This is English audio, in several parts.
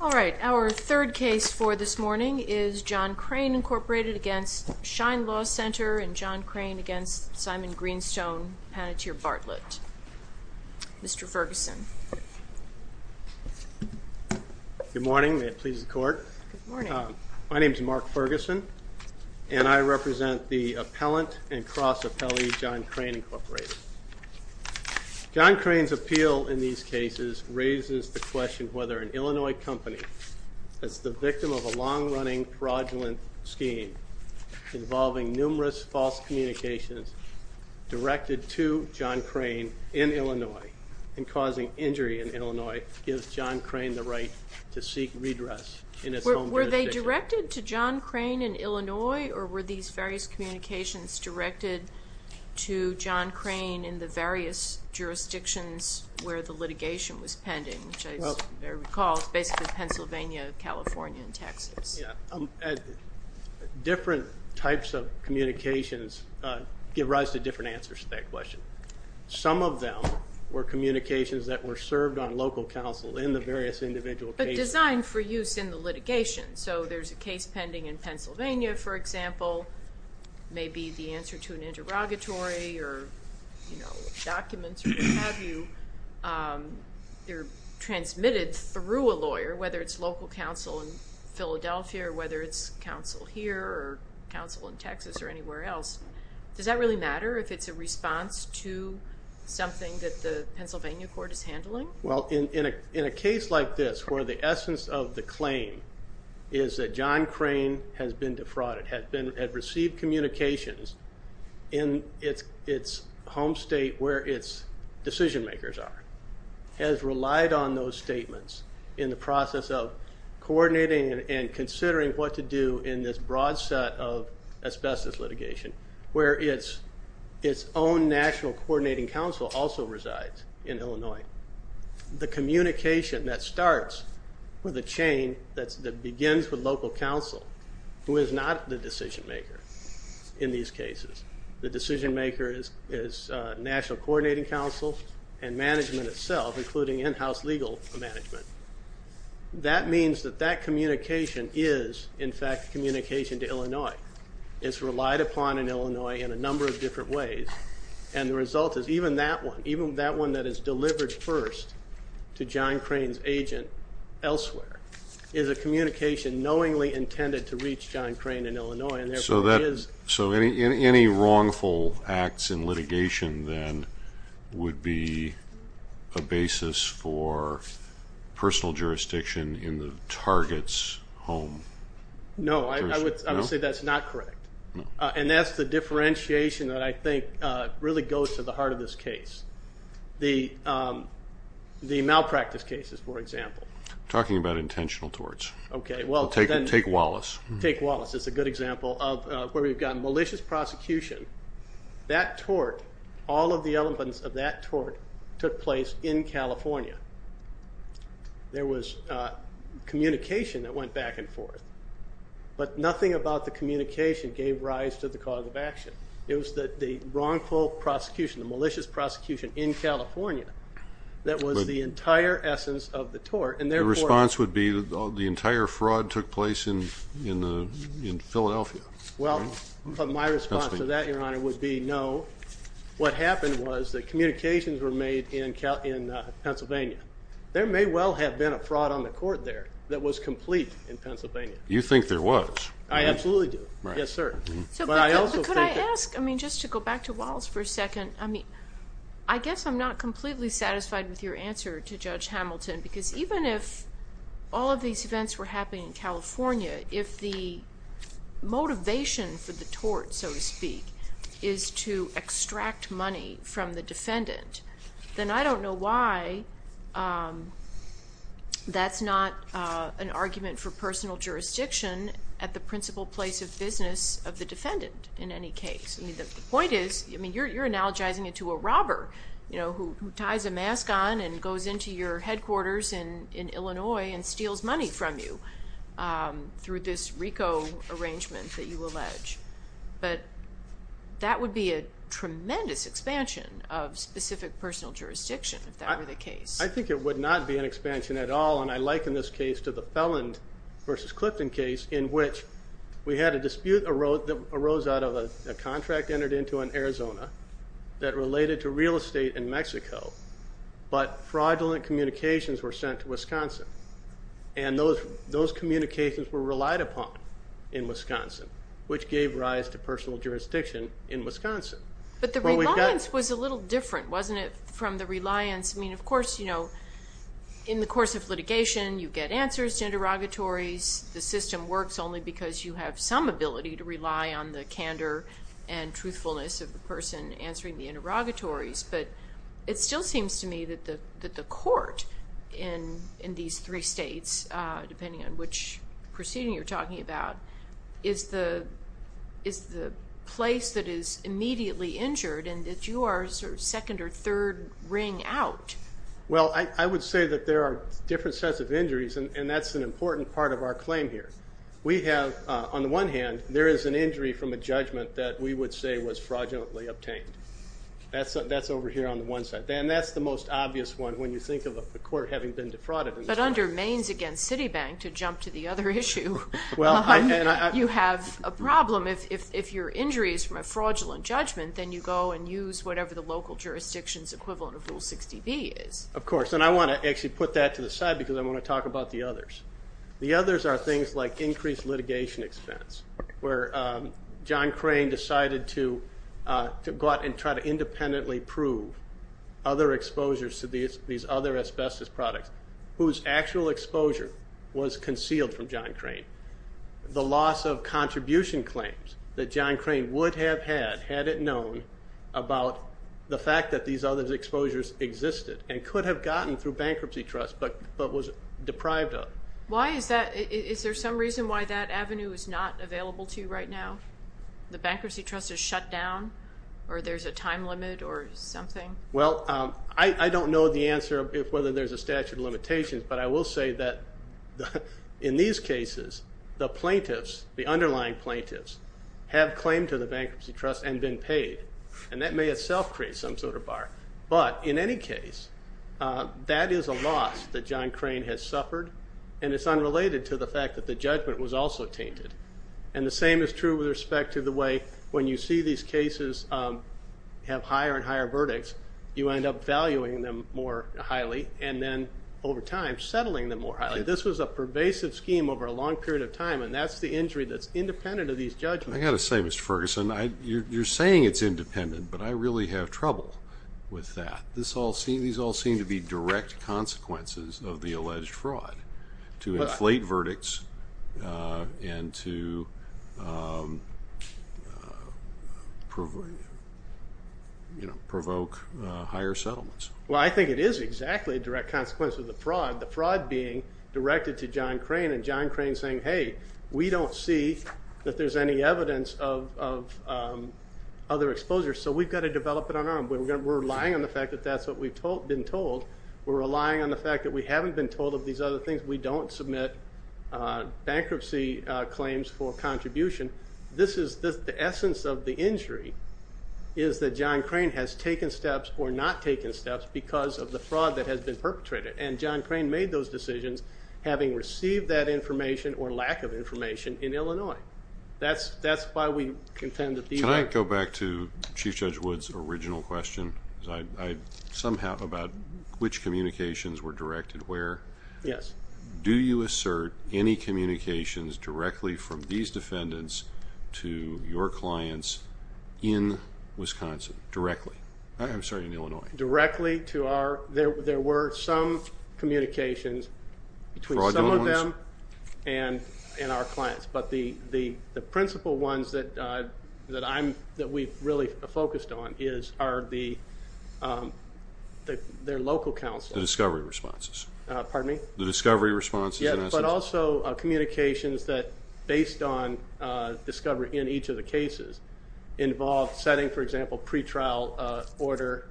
All right. Our third case for this morning is John Crane, Incorporated v. Shein Law Center and John Crane v. Simon Greenstone, Panettiere Bartlett. Mr. Ferguson. Good morning. May it please the court. Good morning. My name is Mark Ferguson and I represent the appellant and cross-appellee John Crane, Incorporated. John Crane's appeal in these cases raises the question whether an Illinois company that's the victim of a long-running, fraudulent scheme involving numerous false communications directed to John Crane in Illinois and causing injury in Illinois gives John Crane the right to seek redress in its home jurisdiction. Were they directed to John Crane in Illinois or were these various communications directed to John Crane in the various jurisdictions where the litigation was pending, which I recall is basically Pennsylvania, California, and Texas? Different types of communications give rise to different answers to that question. Some of them were communications that were served on local counsel in the various individual cases. They're designed for use in the litigation. So there's a case pending in Pennsylvania, for example. Maybe the answer to an interrogatory or documents or what have you, they're transmitted through a lawyer, whether it's local counsel in Philadelphia or whether it's counsel here or counsel in Texas or anywhere else. Does that really matter if it's a response to something that the Pennsylvania court is handling? Well, in a case like this where the essence of the claim is that John Crane has been defrauded, had received communications in its home state where its decision-makers are, has relied on those statements in the process of coordinating and considering what to do in this broad set of asbestos litigation where its own National Coordinating Council also resides in Illinois. The communication that starts with a chain that begins with local counsel, who is not the decision-maker in these cases. The decision-maker is National Coordinating Council and management itself, including in-house legal management. That means that that communication is, in fact, communication to Illinois. It's relied upon in Illinois in a number of different ways. And the result is even that one, even that one that is delivered first to John Crane's agent elsewhere, is a communication knowingly intended to reach John Crane in Illinois. So any wrongful acts in litigation then would be a basis for personal jurisdiction in the target's home? No, I would say that's not correct. And that's the differentiation that I think really goes to the heart of this case. The malpractice cases, for example. Talking about intentional torts. Okay. Take Wallace. Take Wallace is a good example of where we've got malicious prosecution. That tort, all of the elements of that tort took place in California. There was communication that went back and forth. But nothing about the communication gave rise to the cause of action. It was the wrongful prosecution, the malicious prosecution in California that was the entire essence of the tort. And their response would be the entire fraud took place in Philadelphia. Well, my response to that, Your Honor, would be no. What happened was that communications were made in Pennsylvania. There may well have been a fraud on the court there that was complete in Pennsylvania. You think there was? I absolutely do. Right. Yes, sir. But I also think that. But could I ask, I mean, just to go back to Wallace for a second, I mean, I guess I'm not completely satisfied with your answer to Judge Hamilton because even if all of these events were happening in California, if the motivation for the tort, so to speak, is to extract money from the defendant, then I don't know why that's not an argument for personal jurisdiction at the principal place of business of the defendant in any case. I mean, the point is, I mean, you're analogizing it to a robber, you know, who ties a mask on and goes into your headquarters in Illinois and steals money from you through this RICO arrangement that you allege. But that would be a tremendous expansion of specific personal jurisdiction if that were the case. I think it would not be an expansion at all, and I liken this case to the felon versus Clifton case in which we had a dispute that arose out of a contract entered into in Arizona that related to real estate in Mexico, but fraudulent communications were sent to Wisconsin, and those communications were relied upon in Wisconsin, which gave rise to personal jurisdiction in Wisconsin. But the reliance was a little different, wasn't it, from the reliance? I mean, of course, you know, in the course of litigation, you get answers to interrogatories. The system works only because you have some ability to rely on the candor and truthfulness of the person answering the interrogatories. But it still seems to me that the court in these three states, depending on which proceeding you're talking about, is the place that is immediately injured and that you are sort of second or third ring out. Well, I would say that there are different sets of injuries, and that's an important part of our claim here. We have, on the one hand, there is an injury from a judgment that we would say was fraudulently obtained. That's over here on the one side. And that's the most obvious one when you think of a court having been defrauded. But under Mains against Citibank, to jump to the other issue, you have a problem. If your injury is from a fraudulent judgment, then you go and use whatever the local jurisdiction's equivalent of Rule 60B is. Of course, and I want to actually put that to the side because I want to talk about the others. The others are things like increased litigation expense, where John Crane decided to go out and try to independently prove other exposures to these other asbestos products, whose actual exposure was concealed from John Crane. The loss of contribution claims that John Crane would have had had it known about the fact that these other exposures existed and could have gotten through bankruptcy trust but was deprived of. Why is that? Is there some reason why that avenue is not available to you right now? The bankruptcy trust is shut down or there's a time limit or something? Well, I don't know the answer of whether there's a statute of limitations, but I will say that in these cases, the plaintiffs, the underlying plaintiffs, have claimed to the bankruptcy trust and been paid, and that may itself create some sort of bar. But in any case, that is a loss that John Crane has suffered, and it's unrelated to the fact that the judgment was also tainted. And the same is true with respect to the way when you see these cases have higher and higher verdicts, you end up valuing them more highly and then over time settling them more highly. This was a pervasive scheme over a long period of time, and that's the injury that's independent of these judgments. I've got to say, Mr. Ferguson, you're saying it's independent, but I really have trouble with that. These all seem to be direct consequences of the alleged fraud to inflate verdicts and to provoke higher settlements. Well, I think it is exactly a direct consequence of the fraud, the fraud being directed to John Crane, and John Crane saying, hey, we don't see that there's any evidence of other exposures, so we've got to develop it on our own. We're relying on the fact that that's what we've been told. We're relying on the fact that we haven't been told of these other things. We don't submit bankruptcy claims for contribution. The essence of the injury is that John Crane has taken steps or not taken steps because of the fraud that has been perpetrated, and John Crane made those decisions having received that information or lack of information in Illinois. That's why we contend that these are. Can I go back to Chief Judge Wood's original question about which communications were directed where? Yes. Do you assert any communications directly from these defendants to your clients in Wisconsin, directly? I'm sorry, in Illinois. Directly to our. There were some communications between some of them and our clients. But the principal ones that we've really focused on are their local counsel. The discovery responses. Pardon me? The discovery responses. Yes, but also communications that, based on discovery in each of the cases, involve setting, for example, pretrial order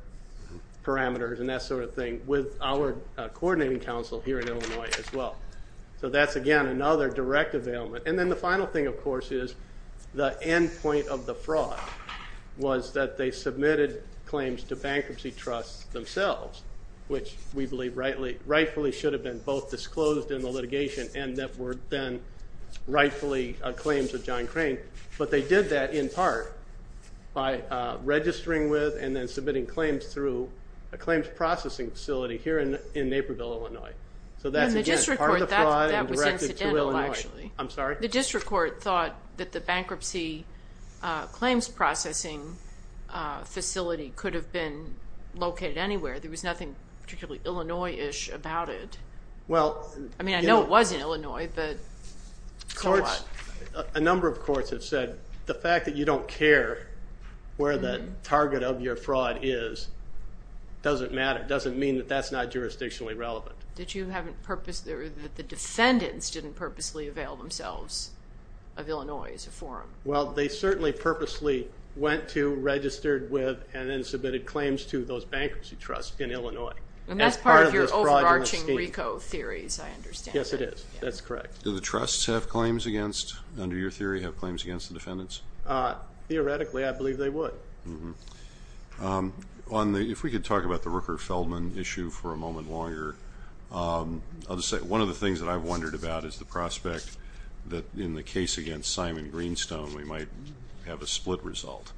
parameters and that sort of thing, with our coordinating counsel here in Illinois as well. So that's, again, another direct availment. And then the final thing, of course, is the end point of the fraud was that they submitted claims to bankruptcy trusts themselves, which we believe rightfully should have been both disclosed in the litigation and that were then rightfully claims of John Crane. But they did that in part by registering with and then submitting claims through a claims processing facility here in Naperville, Illinois. So that's, again, part of the fraud and directed to Illinois. I'm sorry? The district court thought that the bankruptcy claims processing facility could have been located anywhere. There was nothing particularly Illinois-ish about it. I mean, I know it was in Illinois, but so what? A number of courts have said the fact that you don't care where the target of your fraud is doesn't matter. It doesn't mean that that's not jurisdictionally relevant. The defendants didn't purposely avail themselves of Illinois as a forum. Well, they certainly purposely went to, registered with, and then submitted claims to those bankruptcy trusts in Illinois. And that's part of your overarching RICO theories, I understand. Yes, it is. That's correct. Do the trusts have claims against, under your theory, have claims against the defendants? Theoretically, I believe they would. If we could talk about the Rooker-Feldman issue for a moment longer. I'll just say one of the things that I've wondered about is the prospect that in the case against Simon Greenstone, we might have a split result.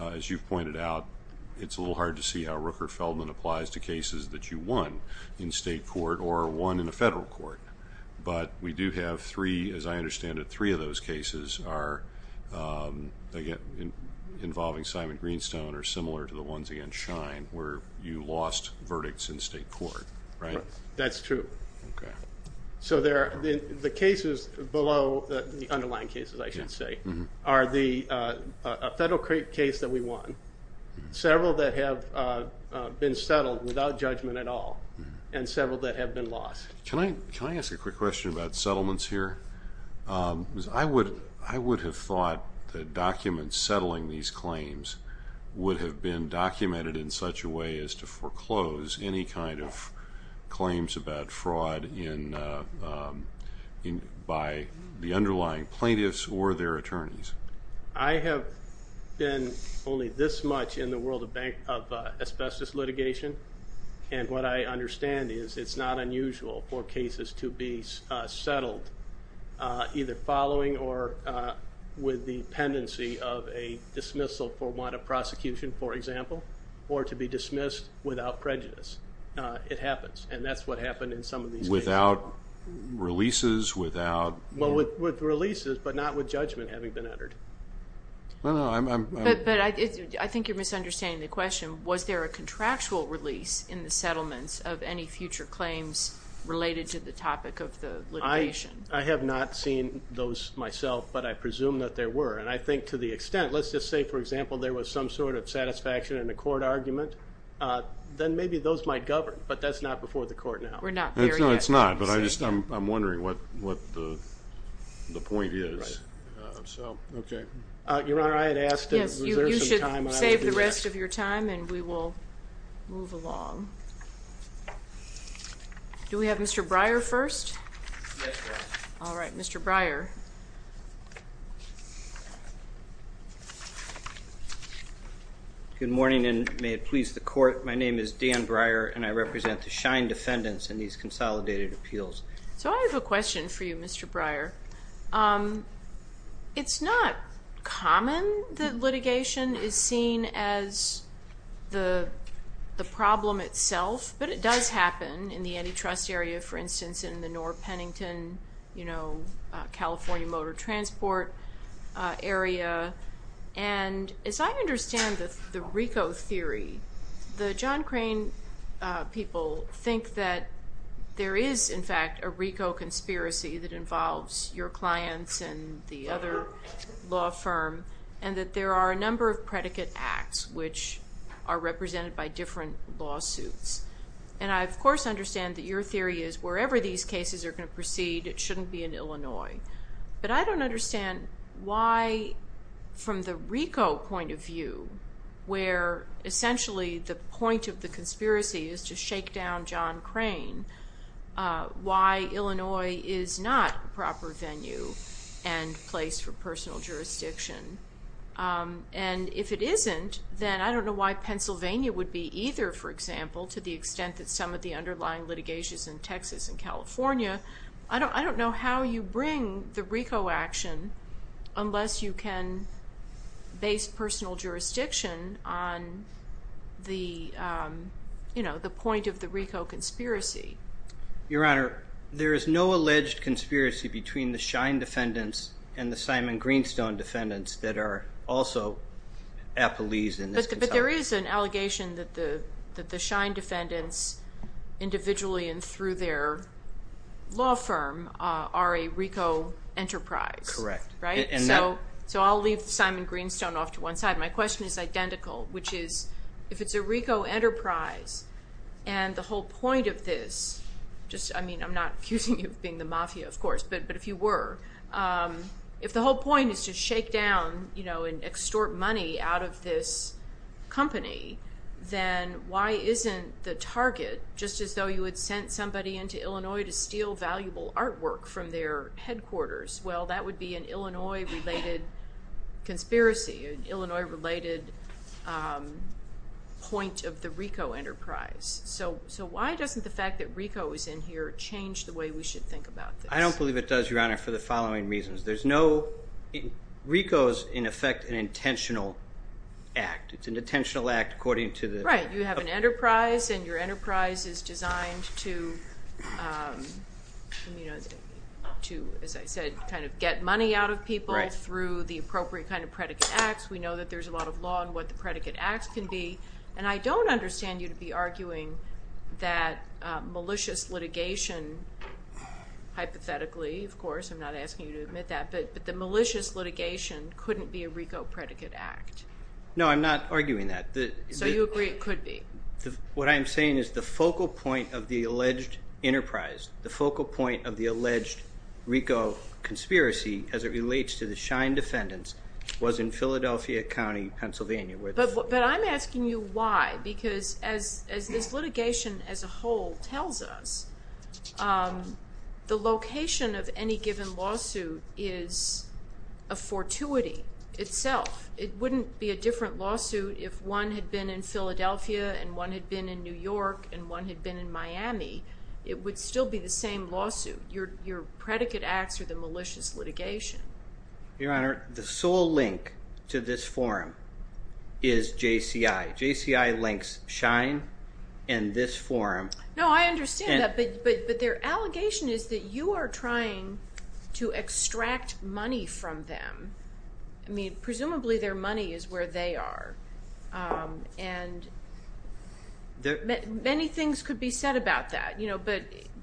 As you've pointed out, it's a little hard to see how Rooker-Feldman applies to cases that you won in state court or won in a federal court. But we do have three, as I understand it, three of those cases are involving Simon Greenstone or similar to the ones against Schein where you lost verdicts in state court, right? That's true. Okay. So the cases below, the underlying cases, I should say, are the federal case that we won, several that have been settled without judgment at all, and several that have been lost. Can I ask a quick question about settlements here? I would have thought that documents settling these claims would have been documented in such a way as to foreclose any kind of claims about fraud by the underlying plaintiffs or their attorneys. I have been only this much in the world of asbestos litigation, and what I understand is it's not unusual for cases to be settled either following or with the pendency of a dismissal for want of prosecution, for example, or to be dismissed without prejudice. It happens, and that's what happened in some of these cases. Without releases, without? Well, with releases, but not with judgment having been entered. But I think you're misunderstanding the question. Was there a contractual release in the settlements of any future claims related to the topic of the litigation? I have not seen those myself, but I presume that there were, and I think to the extent, let's just say, for example, there was some sort of satisfaction in a court argument, then maybe those might govern, but that's not before the court now. We're not there yet. No, it's not, but I'm wondering what the point is. Okay. Your Honor, I had asked if there was some time. You should save the rest of your time, and we will move along. Do we have Mr. Breyer first? Yes, Your Honor. All right, Mr. Breyer. Good morning, and may it please the Court. My name is Dan Breyer, and I represent the Schein defendants in these consolidated appeals. So I have a question for you, Mr. Breyer. It's not common that litigation is seen as the problem itself, but it does happen in the antitrust area, for instance, in the North Pennington, you know, California motor transport area, and as I understand the RICO theory, the John Crane people think that there is, in fact, a RICO conspiracy that involves your clients and the other law firm, and that there are a number of predicate acts which are represented by different lawsuits. And I, of course, understand that your theory is wherever these cases are going to proceed, it shouldn't be in Illinois. But I don't understand why, from the RICO point of view, where essentially the point of the conspiracy is to shake down John Crane, why Illinois is not a proper venue and place for personal jurisdiction. And if it isn't, then I don't know why Pennsylvania would be either, for example, to the extent that some of the underlying litigations in Texas and California. I don't know how you bring the RICO action unless you can base personal jurisdiction on the, you know, the point of the RICO conspiracy. Your Honor, there is no alleged conspiracy between the Schein defendants and the Simon Greenstone defendants that are also appellees in this case. But there is an allegation that the Schein defendants individually and through their law firm are a RICO enterprise. Correct. So I'll leave Simon Greenstone off to one side. My question is identical, which is if it's a RICO enterprise and the whole point of this, I mean I'm not accusing you of being the mafia, of course, but if you were, if the whole point is to shake down, you know, and extort money out of this company, then why isn't the target just as though you had sent somebody into Illinois to steal valuable artwork from their headquarters? Well, that would be an Illinois-related conspiracy, an Illinois-related point of the RICO enterprise. So why doesn't the fact that RICO is in here change the way we should think about this? I don't believe it does, Your Honor, for the following reasons. RICO is, in effect, an intentional act. It's an intentional act according to the- Right. You have an enterprise and your enterprise is designed to, as I said, kind of get money out of people through the appropriate kind of predicate acts. We know that there's a lot of law in what the predicate acts can be, and I don't understand you to be arguing that malicious litigation, hypothetically, of course, I'm not asking you to admit that, but the malicious litigation couldn't be a RICO predicate act. No, I'm not arguing that. So you agree it could be? What I'm saying is the focal point of the alleged enterprise, the focal point of the alleged RICO conspiracy as it relates to the Shine defendants, was in Philadelphia County, Pennsylvania. But I'm asking you why, because as this litigation as a whole tells us, the location of any given lawsuit is a fortuity itself. It wouldn't be a different lawsuit if one had been in Philadelphia and one had been in New York and one had been in Miami. It would still be the same lawsuit. Your predicate acts are the malicious litigation. Your Honor, the sole link to this forum is JCI. JCI links Shine and this forum. No, I understand that, but their allegation is that you are trying to extract money from them. I mean, presumably their money is where they are, and many things could be said about that,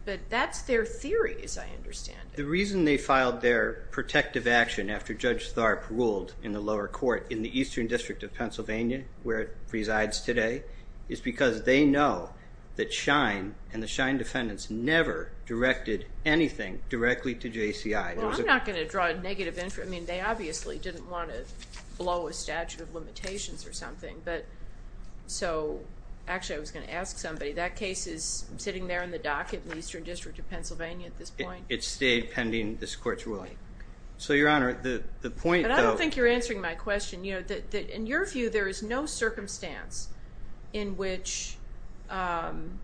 but that's their theory, as I understand it. The reason they filed their protective action after Judge Tharp ruled in the lower court in the Eastern District of Pennsylvania, where it resides today, is because they know that Shine and the Shine defendants never directed anything directly to JCI. Well, I'm not going to draw a negative inference. I mean, they obviously didn't want to blow a statute of limitations or something. So actually I was going to ask somebody, that case is sitting there in the docket in the Eastern District of Pennsylvania at this point? It stayed pending this court's ruling. So, Your Honor, the point, though... But I don't think you're answering my question. In your view, there is no circumstance in which an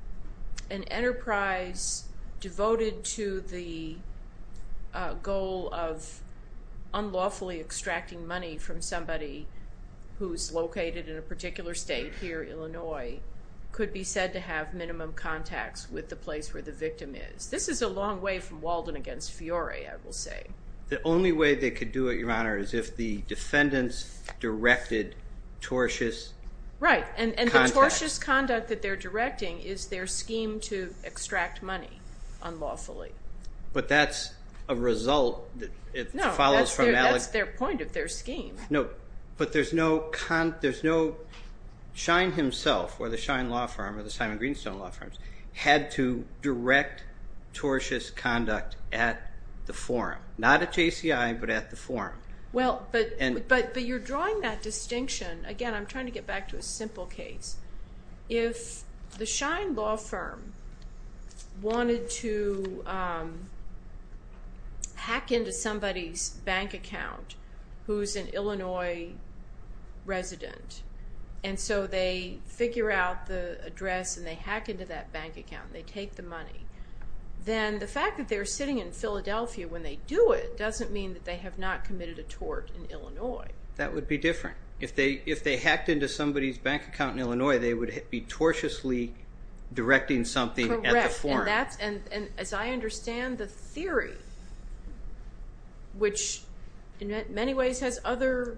enterprise devoted to the goal of unlawfully extracting money from somebody who's located in a particular state here, Illinois, could be said to have minimum contacts with the place where the victim is. This is a long way from Walden against Fiore, I will say. The only way they could do it, Your Honor, is if the defendants directed tortious... Right, and the tortious conduct that they're directing is their scheme to extract money unlawfully. But that's a result that follows from... No, but there's no... Schein himself, or the Schein Law Firm, or the Simon Greenstone Law Firms, had to direct tortious conduct at the forum. Not at JCI, but at the forum. Well, but you're drawing that distinction... Again, I'm trying to get back to a simple case. If the Schein Law Firm wanted to hack into somebody's bank account who's an Illinois resident, and so they figure out the address and they hack into that bank account and they take the money, then the fact that they're sitting in Philadelphia when they do it doesn't mean that they have not committed a tort in Illinois. That would be different. If they hacked into somebody's bank account in Illinois, they would be tortiously directing something at the forum. Correct, and as I understand the theory, which in many ways has other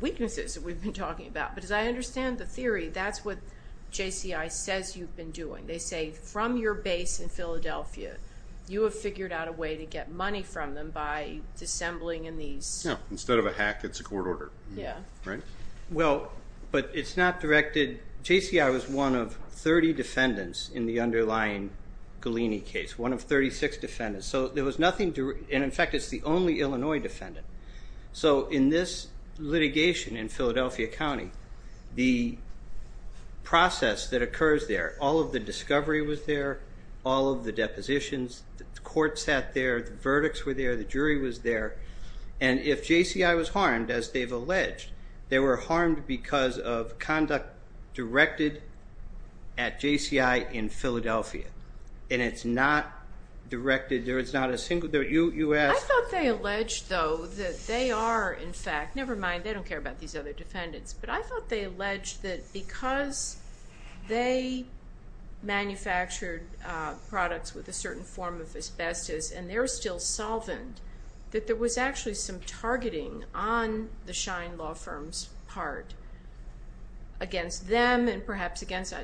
weaknesses that we've been talking about, but as I understand the theory, that's what JCI says you've been doing. They say, from your base in Philadelphia, you have figured out a way to get money from them by dissembling in these... Well, but it's not directed... JCI was one of 30 defendants in the underlying Gallini case, one of 36 defendants. So there was nothing... And in fact, it's the only Illinois defendant. So in this litigation in Philadelphia County, the process that occurs there, all of the discovery was there, all of the depositions, the court sat there, the verdicts were there, the jury was there, and if JCI was harmed, as they've alleged, they were harmed because of conduct directed at JCI in Philadelphia, and it's not directed, there is not a single... I thought they alleged, though, that they are, in fact, never mind, they don't care about these other defendants, but I thought they alleged that because they manufactured products with a certain form of asbestos and they're still solvent, that there was actually some targeting on the Shine law firm's part against them and perhaps against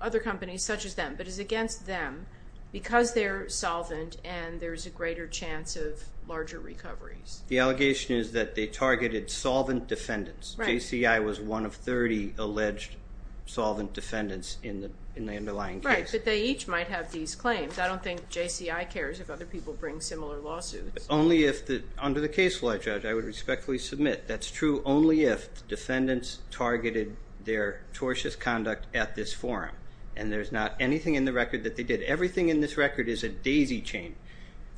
other companies such as them, but it's against them because they're solvent and there's a greater chance of larger recoveries. The allegation is that they targeted solvent defendants. JCI was one of 30 alleged solvent defendants in the underlying case. Right, but they each might have these claims. I don't think JCI cares if other people bring similar lawsuits. Only if, under the case law, Judge, I would respectfully submit, that's true only if the defendants targeted their tortious conduct at this forum and there's not anything in the record that they did. Everything in this record is a daisy chain.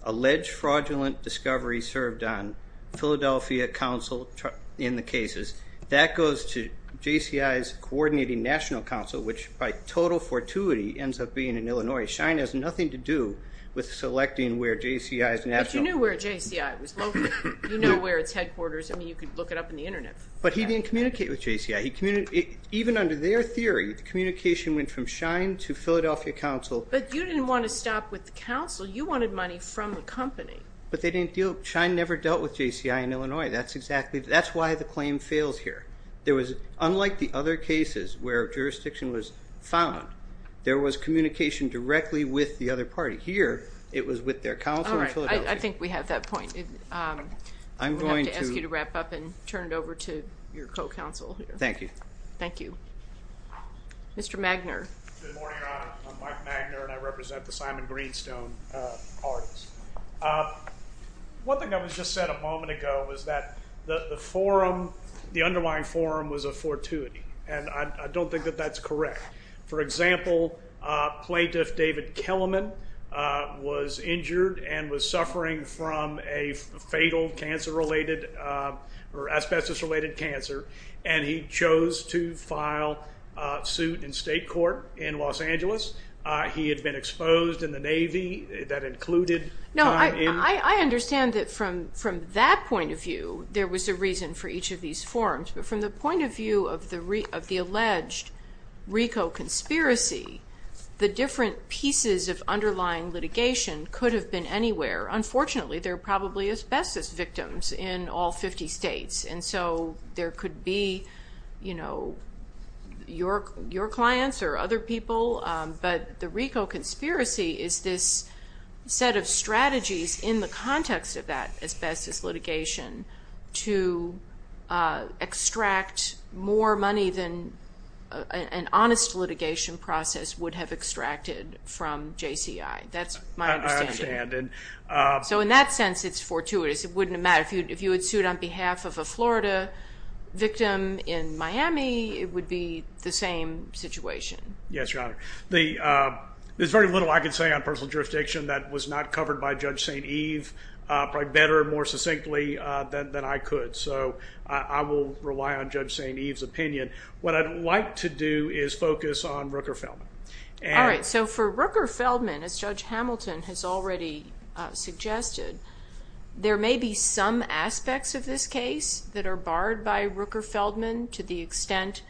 Alleged fraudulent discovery served on Philadelphia council in the cases. That goes to JCI's coordinating national council, which by total fortuity ends up being in Illinois. Shine has nothing to do with selecting where JCI's national... But you knew where JCI was located. You know where it's headquarters. I mean, you could look it up on the Internet. But he didn't communicate with JCI. Even under their theory, communication went from Shine to Philadelphia council. But you didn't want to stop with the council. You wanted money from the company. But Shine never dealt with JCI in Illinois. That's why the claim fails here. Unlike the other cases where jurisdiction was found, there was communication directly with the other party. But here it was with their council in Philadelphia. All right, I think we have that point. I'm going to ask you to wrap up and turn it over to your co-counsel. Thank you. Thank you. Mr. Magner. Good morning, Your Honor. I'm Mike Magner, and I represent the Simon Greenstone parties. One thing that was just said a moment ago was that the forum, the underlying forum was a fortuity, and I don't think that that's correct. For example, Plaintiff David Kellerman was injured and was suffering from a fatal cancer-related or asbestos-related cancer, and he chose to file suit in state court in Los Angeles. He had been exposed in the Navy. That included time in. No, I understand that from that point of view, there was a reason for each of these forums. But from the point of view of the alleged RICO conspiracy, the different pieces of underlying litigation could have been anywhere. Unfortunately, there are probably asbestos victims in all 50 states, and so there could be, you know, your clients or other people. But the RICO conspiracy is this set of strategies in the context of that more money than an honest litigation process would have extracted from JCI. That's my understanding. I understand. So in that sense, it's fortuitous. It wouldn't have mattered. If you had sued on behalf of a Florida victim in Miami, it would be the same situation. Yes, Your Honor. There's very little I can say on personal jurisdiction that was not covered by Judge St. Eve probably better and more succinctly than I could. So I will rely on Judge St. Eve's opinion. What I'd like to do is focus on Rooker-Feldman. All right. So for Rooker-Feldman, as Judge Hamilton has already suggested, there may be some aspects of this case that are barred by Rooker-Feldman to the extent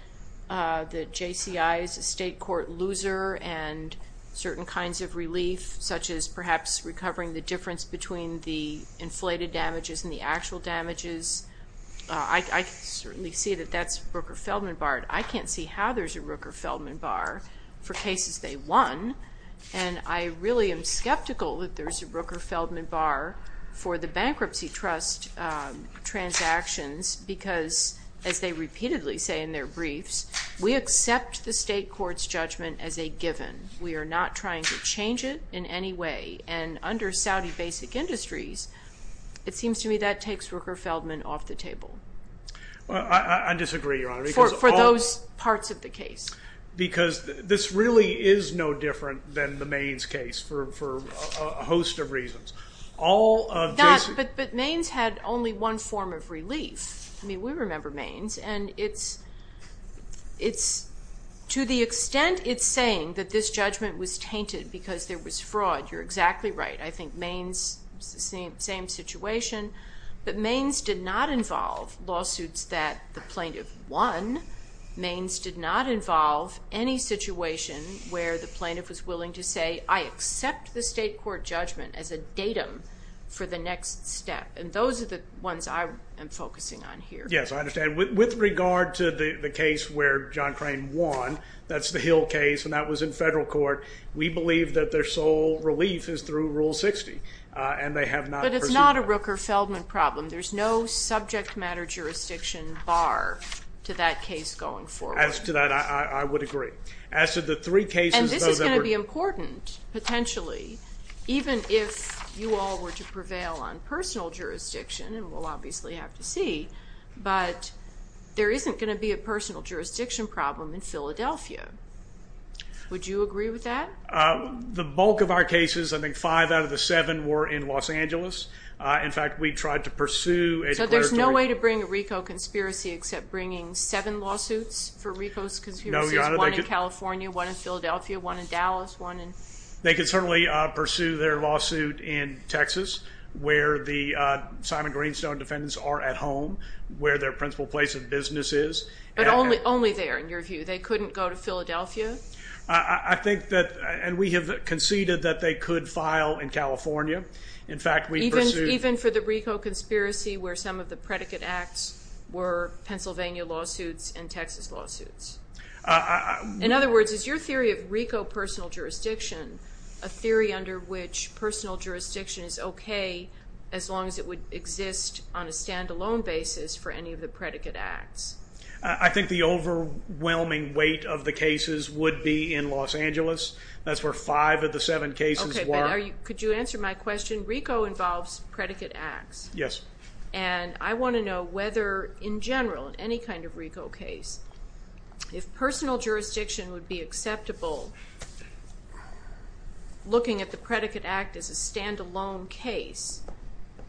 that JCI is a state court loser and certain kinds of relief, such as perhaps recovering the difference between the inflated damages and the actual damages. I can certainly see that that's Rooker-Feldman barred. I can't see how there's a Rooker-Feldman bar for cases they won, and I really am skeptical that there's a Rooker-Feldman bar for the bankruptcy trust transactions because, as they repeatedly say in their briefs, we accept the state court's judgment as a given. We are not trying to change it in any way. And under Saudi basic industries, it seems to me that takes Rooker-Feldman off the table. I disagree, Your Honor. For those parts of the case. Because this really is no different than the Mainz case for a host of reasons. But Mainz had only one form of relief. I mean, we remember Mainz, and to the extent it's saying that this judgment was tainted because there was fraud, you're exactly right. I think Mainz, same situation. But Mainz did not involve lawsuits that the plaintiff won. Mainz did not involve any situation where the plaintiff was willing to say, I accept the state court judgment as a datum for the next step. And those are the ones I am focusing on here. Yes, I understand. With regard to the case where John Crane won, that's the Hill case, and that was in federal court. We believe that their sole relief is through Rule 60, and they have not pursued that. But it's not a Rooker-Feldman problem. There's no subject matter jurisdiction bar to that case going forward. As to that, I would agree. And this is going to be important, potentially, even if you all were to prevail on personal jurisdiction, and we'll obviously have to see, but there isn't going to be a personal jurisdiction problem in Philadelphia. Would you agree with that? The bulk of our cases, I think five out of the seven were in Los Angeles. In fact, we tried to pursue a declaratory. So there's no way to bring a RICO conspiracy except bringing seven lawsuits for RICO conspiracies? No, Your Honor. One in California, one in Philadelphia, one in Dallas. They could certainly pursue their lawsuit in Texas, where the Simon-Greenstone defendants are at home, where their principal place of business is. But only there, in your view? They couldn't go to Philadelphia? I think that, and we have conceded that they could file in California. In fact, we pursued. Even for the RICO conspiracy where some of the predicate acts were Pennsylvania lawsuits and Texas lawsuits? In other words, is your theory of RICO personal jurisdiction a theory under which personal jurisdiction is okay as long as it would exist on a stand-alone basis for any of the predicate acts? I think the overwhelming weight of the cases would be in Los Angeles. That's where five of the seven cases were. Okay, but could you answer my question? RICO involves predicate acts. Yes. And I want to know whether, in general, in any kind of RICO case, if personal jurisdiction would be acceptable, looking at the predicate act as a stand-alone case,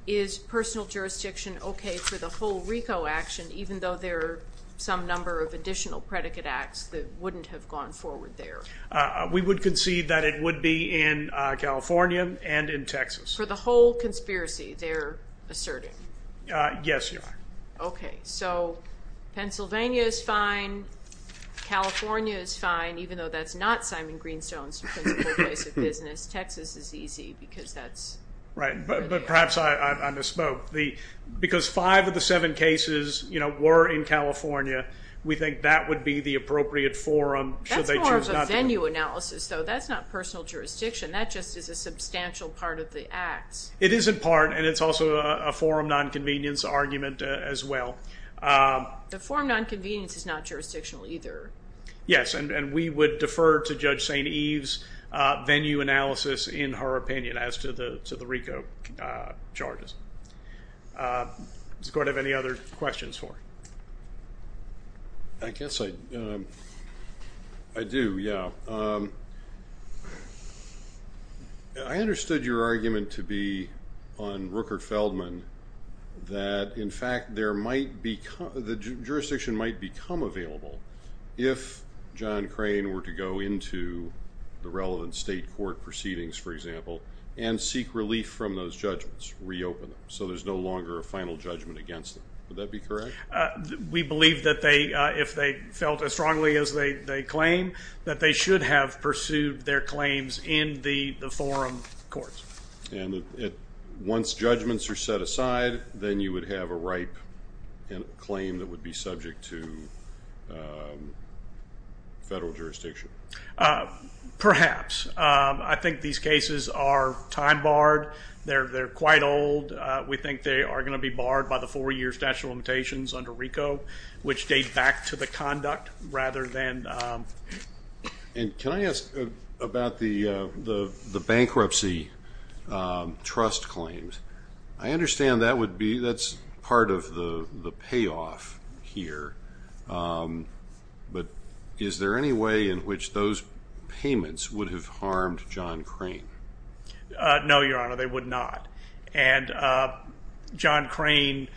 is personal jurisdiction okay for the whole RICO action, even though there are some number of additional predicate acts that wouldn't have gone forward there? We would concede that it would be in California and in Texas. For the whole conspiracy, they're asserting? Yes, you are. Okay, so Pennsylvania is fine, California is fine, even though that's not Simon Greenstone's principal place of business. Texas is easy because that's good there. Right, but perhaps I misspoke. Because five of the seven cases were in California, we think that would be the appropriate forum. That's more of a venue analysis, though. That's not personal jurisdiction. That just is a substantial part of the acts. It is in part, and it's also a forum nonconvenience argument as well. The forum nonconvenience is not jurisdictional either. Yes, and we would defer to Judge St. Eve's venue analysis, in her opinion, as to the RICO charges. Does the Court have any other questions for her? I guess I do, yeah. I understood your argument to be on Rooker-Feldman that, in fact, the jurisdiction might become available if John Crane were to go into the relevant state court proceedings, for example, and seek relief from those judgments, reopen them, so there's no longer a final judgment against them. Would that be correct? We believe that if they felt as strongly as they claim, that they should have pursued their claims in the forum courts. And once judgments are set aside, then you would have a ripe claim that would be subject to federal jurisdiction? Perhaps. I think these cases are time-barred. They're quite old. We think they are going to be barred by the four-year statute of limitations under RICO, which date back to the conduct rather than. And can I ask about the bankruptcy trust claims? I understand that's part of the payoff here, but is there any way in which those payments would have harmed John Crane? No, Your Honor, they would not. And John Crane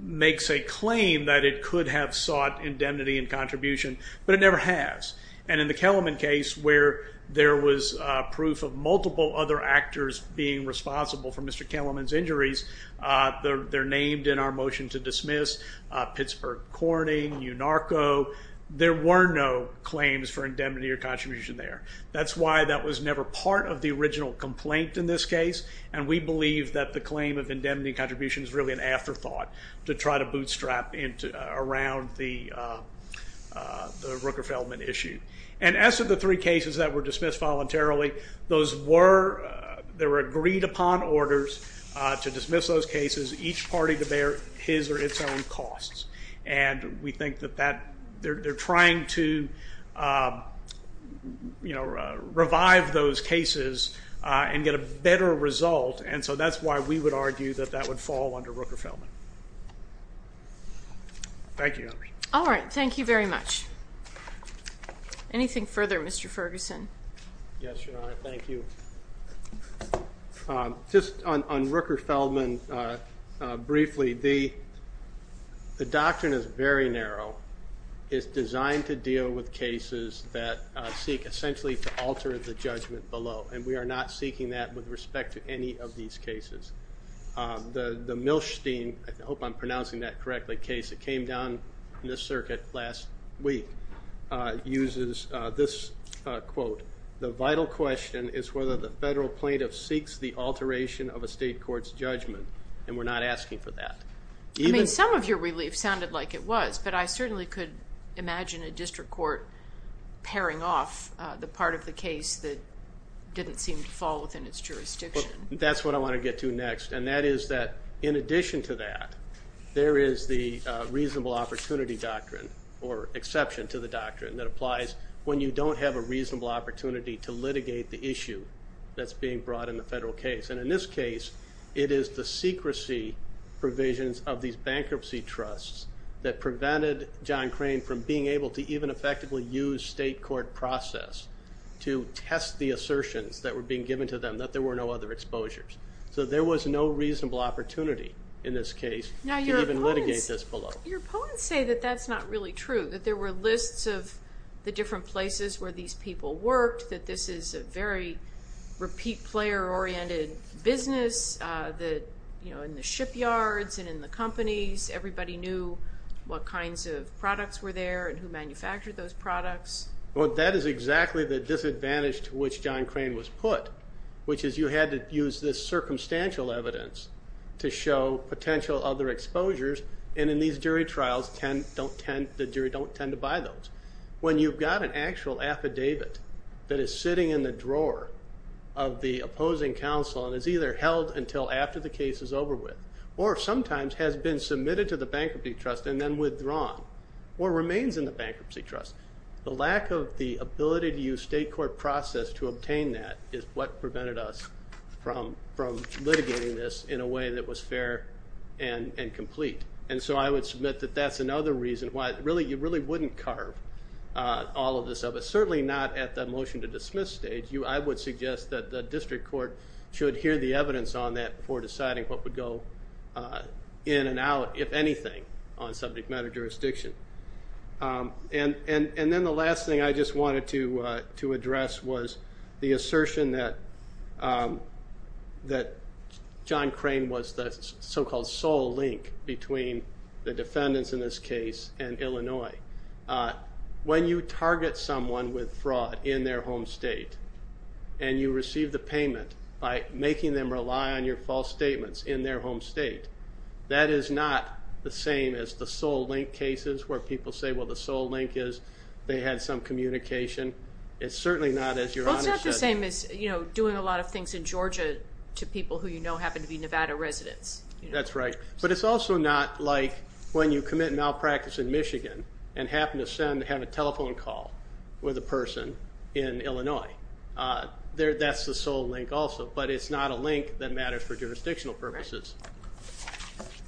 makes a claim that it could have sought indemnity and contribution, but it never has. And in the Kellerman case where there was proof of multiple other actors being responsible for Mr. Kellerman's injuries, they're named in our motion to dismiss, Pittsburgh Corning, UNARCO, there were no claims for indemnity or contribution there. That's why that was never part of the original complaint in this case, and we believe that the claim of indemnity and contribution is really an afterthought to try to bootstrap around the Rooker-Feldman issue. And as to the three cases that were dismissed voluntarily, those were agreed upon orders to dismiss those cases, each party to bear his or its own costs. And we think that they're trying to revive those cases and get a better result, and so that's why we would argue that that would fall under Rooker-Feldman. Thank you, Your Honor. All right. Thank you very much. Anything further, Mr. Ferguson? Yes, Your Honor. Thank you. Just on Rooker-Feldman briefly, the doctrine is very narrow. It's designed to deal with cases that seek essentially to alter the judgment below, and we are not seeking that with respect to any of these cases. The Milstein, I hope I'm pronouncing that correctly, case that came down in the circuit last week uses this quote, the vital question is whether the federal plaintiff seeks the alteration of a state court's judgment, and we're not asking for that. I mean, some of your relief sounded like it was, but I certainly could imagine a district court pairing off the part of the case that didn't seem to fall within its jurisdiction. That's what I want to get to next, and that is that in addition to that, there is the reasonable opportunity doctrine or exception to the doctrine that applies when you don't have a reasonable opportunity to litigate the issue that's being brought in the federal case. And in this case, it is the secrecy provisions of these bankruptcy trusts that prevented John Crane from being able to even effectively use the state court process to test the assertions that were being given to them that there were no other exposures. So there was no reasonable opportunity in this case to even litigate this below. Your opponents say that that's not really true, that there were lists of the different places where these people worked, that this is a very repeat player oriented business, that in the shipyards and in the companies, everybody knew what kinds of products were there and who manufactured those products. Well, that is exactly the disadvantage to which John Crane was put, which is you had to use this circumstantial evidence to show potential other exposures, and in these jury trials the jury don't tend to buy those. When you've got an actual affidavit that is sitting in the drawer of the opposing counsel and is either held until after the case is over with or sometimes has been submitted to the bankruptcy trust and then withdrawn or remains in the bankruptcy trust, the lack of the ability to use state court process to obtain that is what prevented us from litigating this in a way that was fair and complete. And so I would submit that that's another reason why you really wouldn't carve all of this up, certainly not at the motion to dismiss stage. I would suggest that the district court should hear the evidence on that before deciding what would go in and out, if anything, on subject matter jurisdiction. And then the last thing I just wanted to address was the assertion that John Crane was the so-called sole link between the defendants in this case and Illinois. When you target someone with fraud in their home state and you receive the payment by making them rely on your false statements in their home state, that is not the same as the sole link cases where people say, well, the sole link is they had some communication. It's certainly not, as your Honor said. Well, it's not the same as doing a lot of things in Georgia to people who you know happen to be Nevada residents. That's right. But it's also not like when you commit malpractice in Michigan and happen to have a telephone call with a person in Illinois. That's the sole link also. But it's not a link that matters for jurisdictional purposes.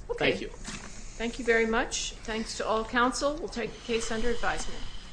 Okay. Thank you. Thank you very much. Thanks to all counsel. We'll take the case under advisement.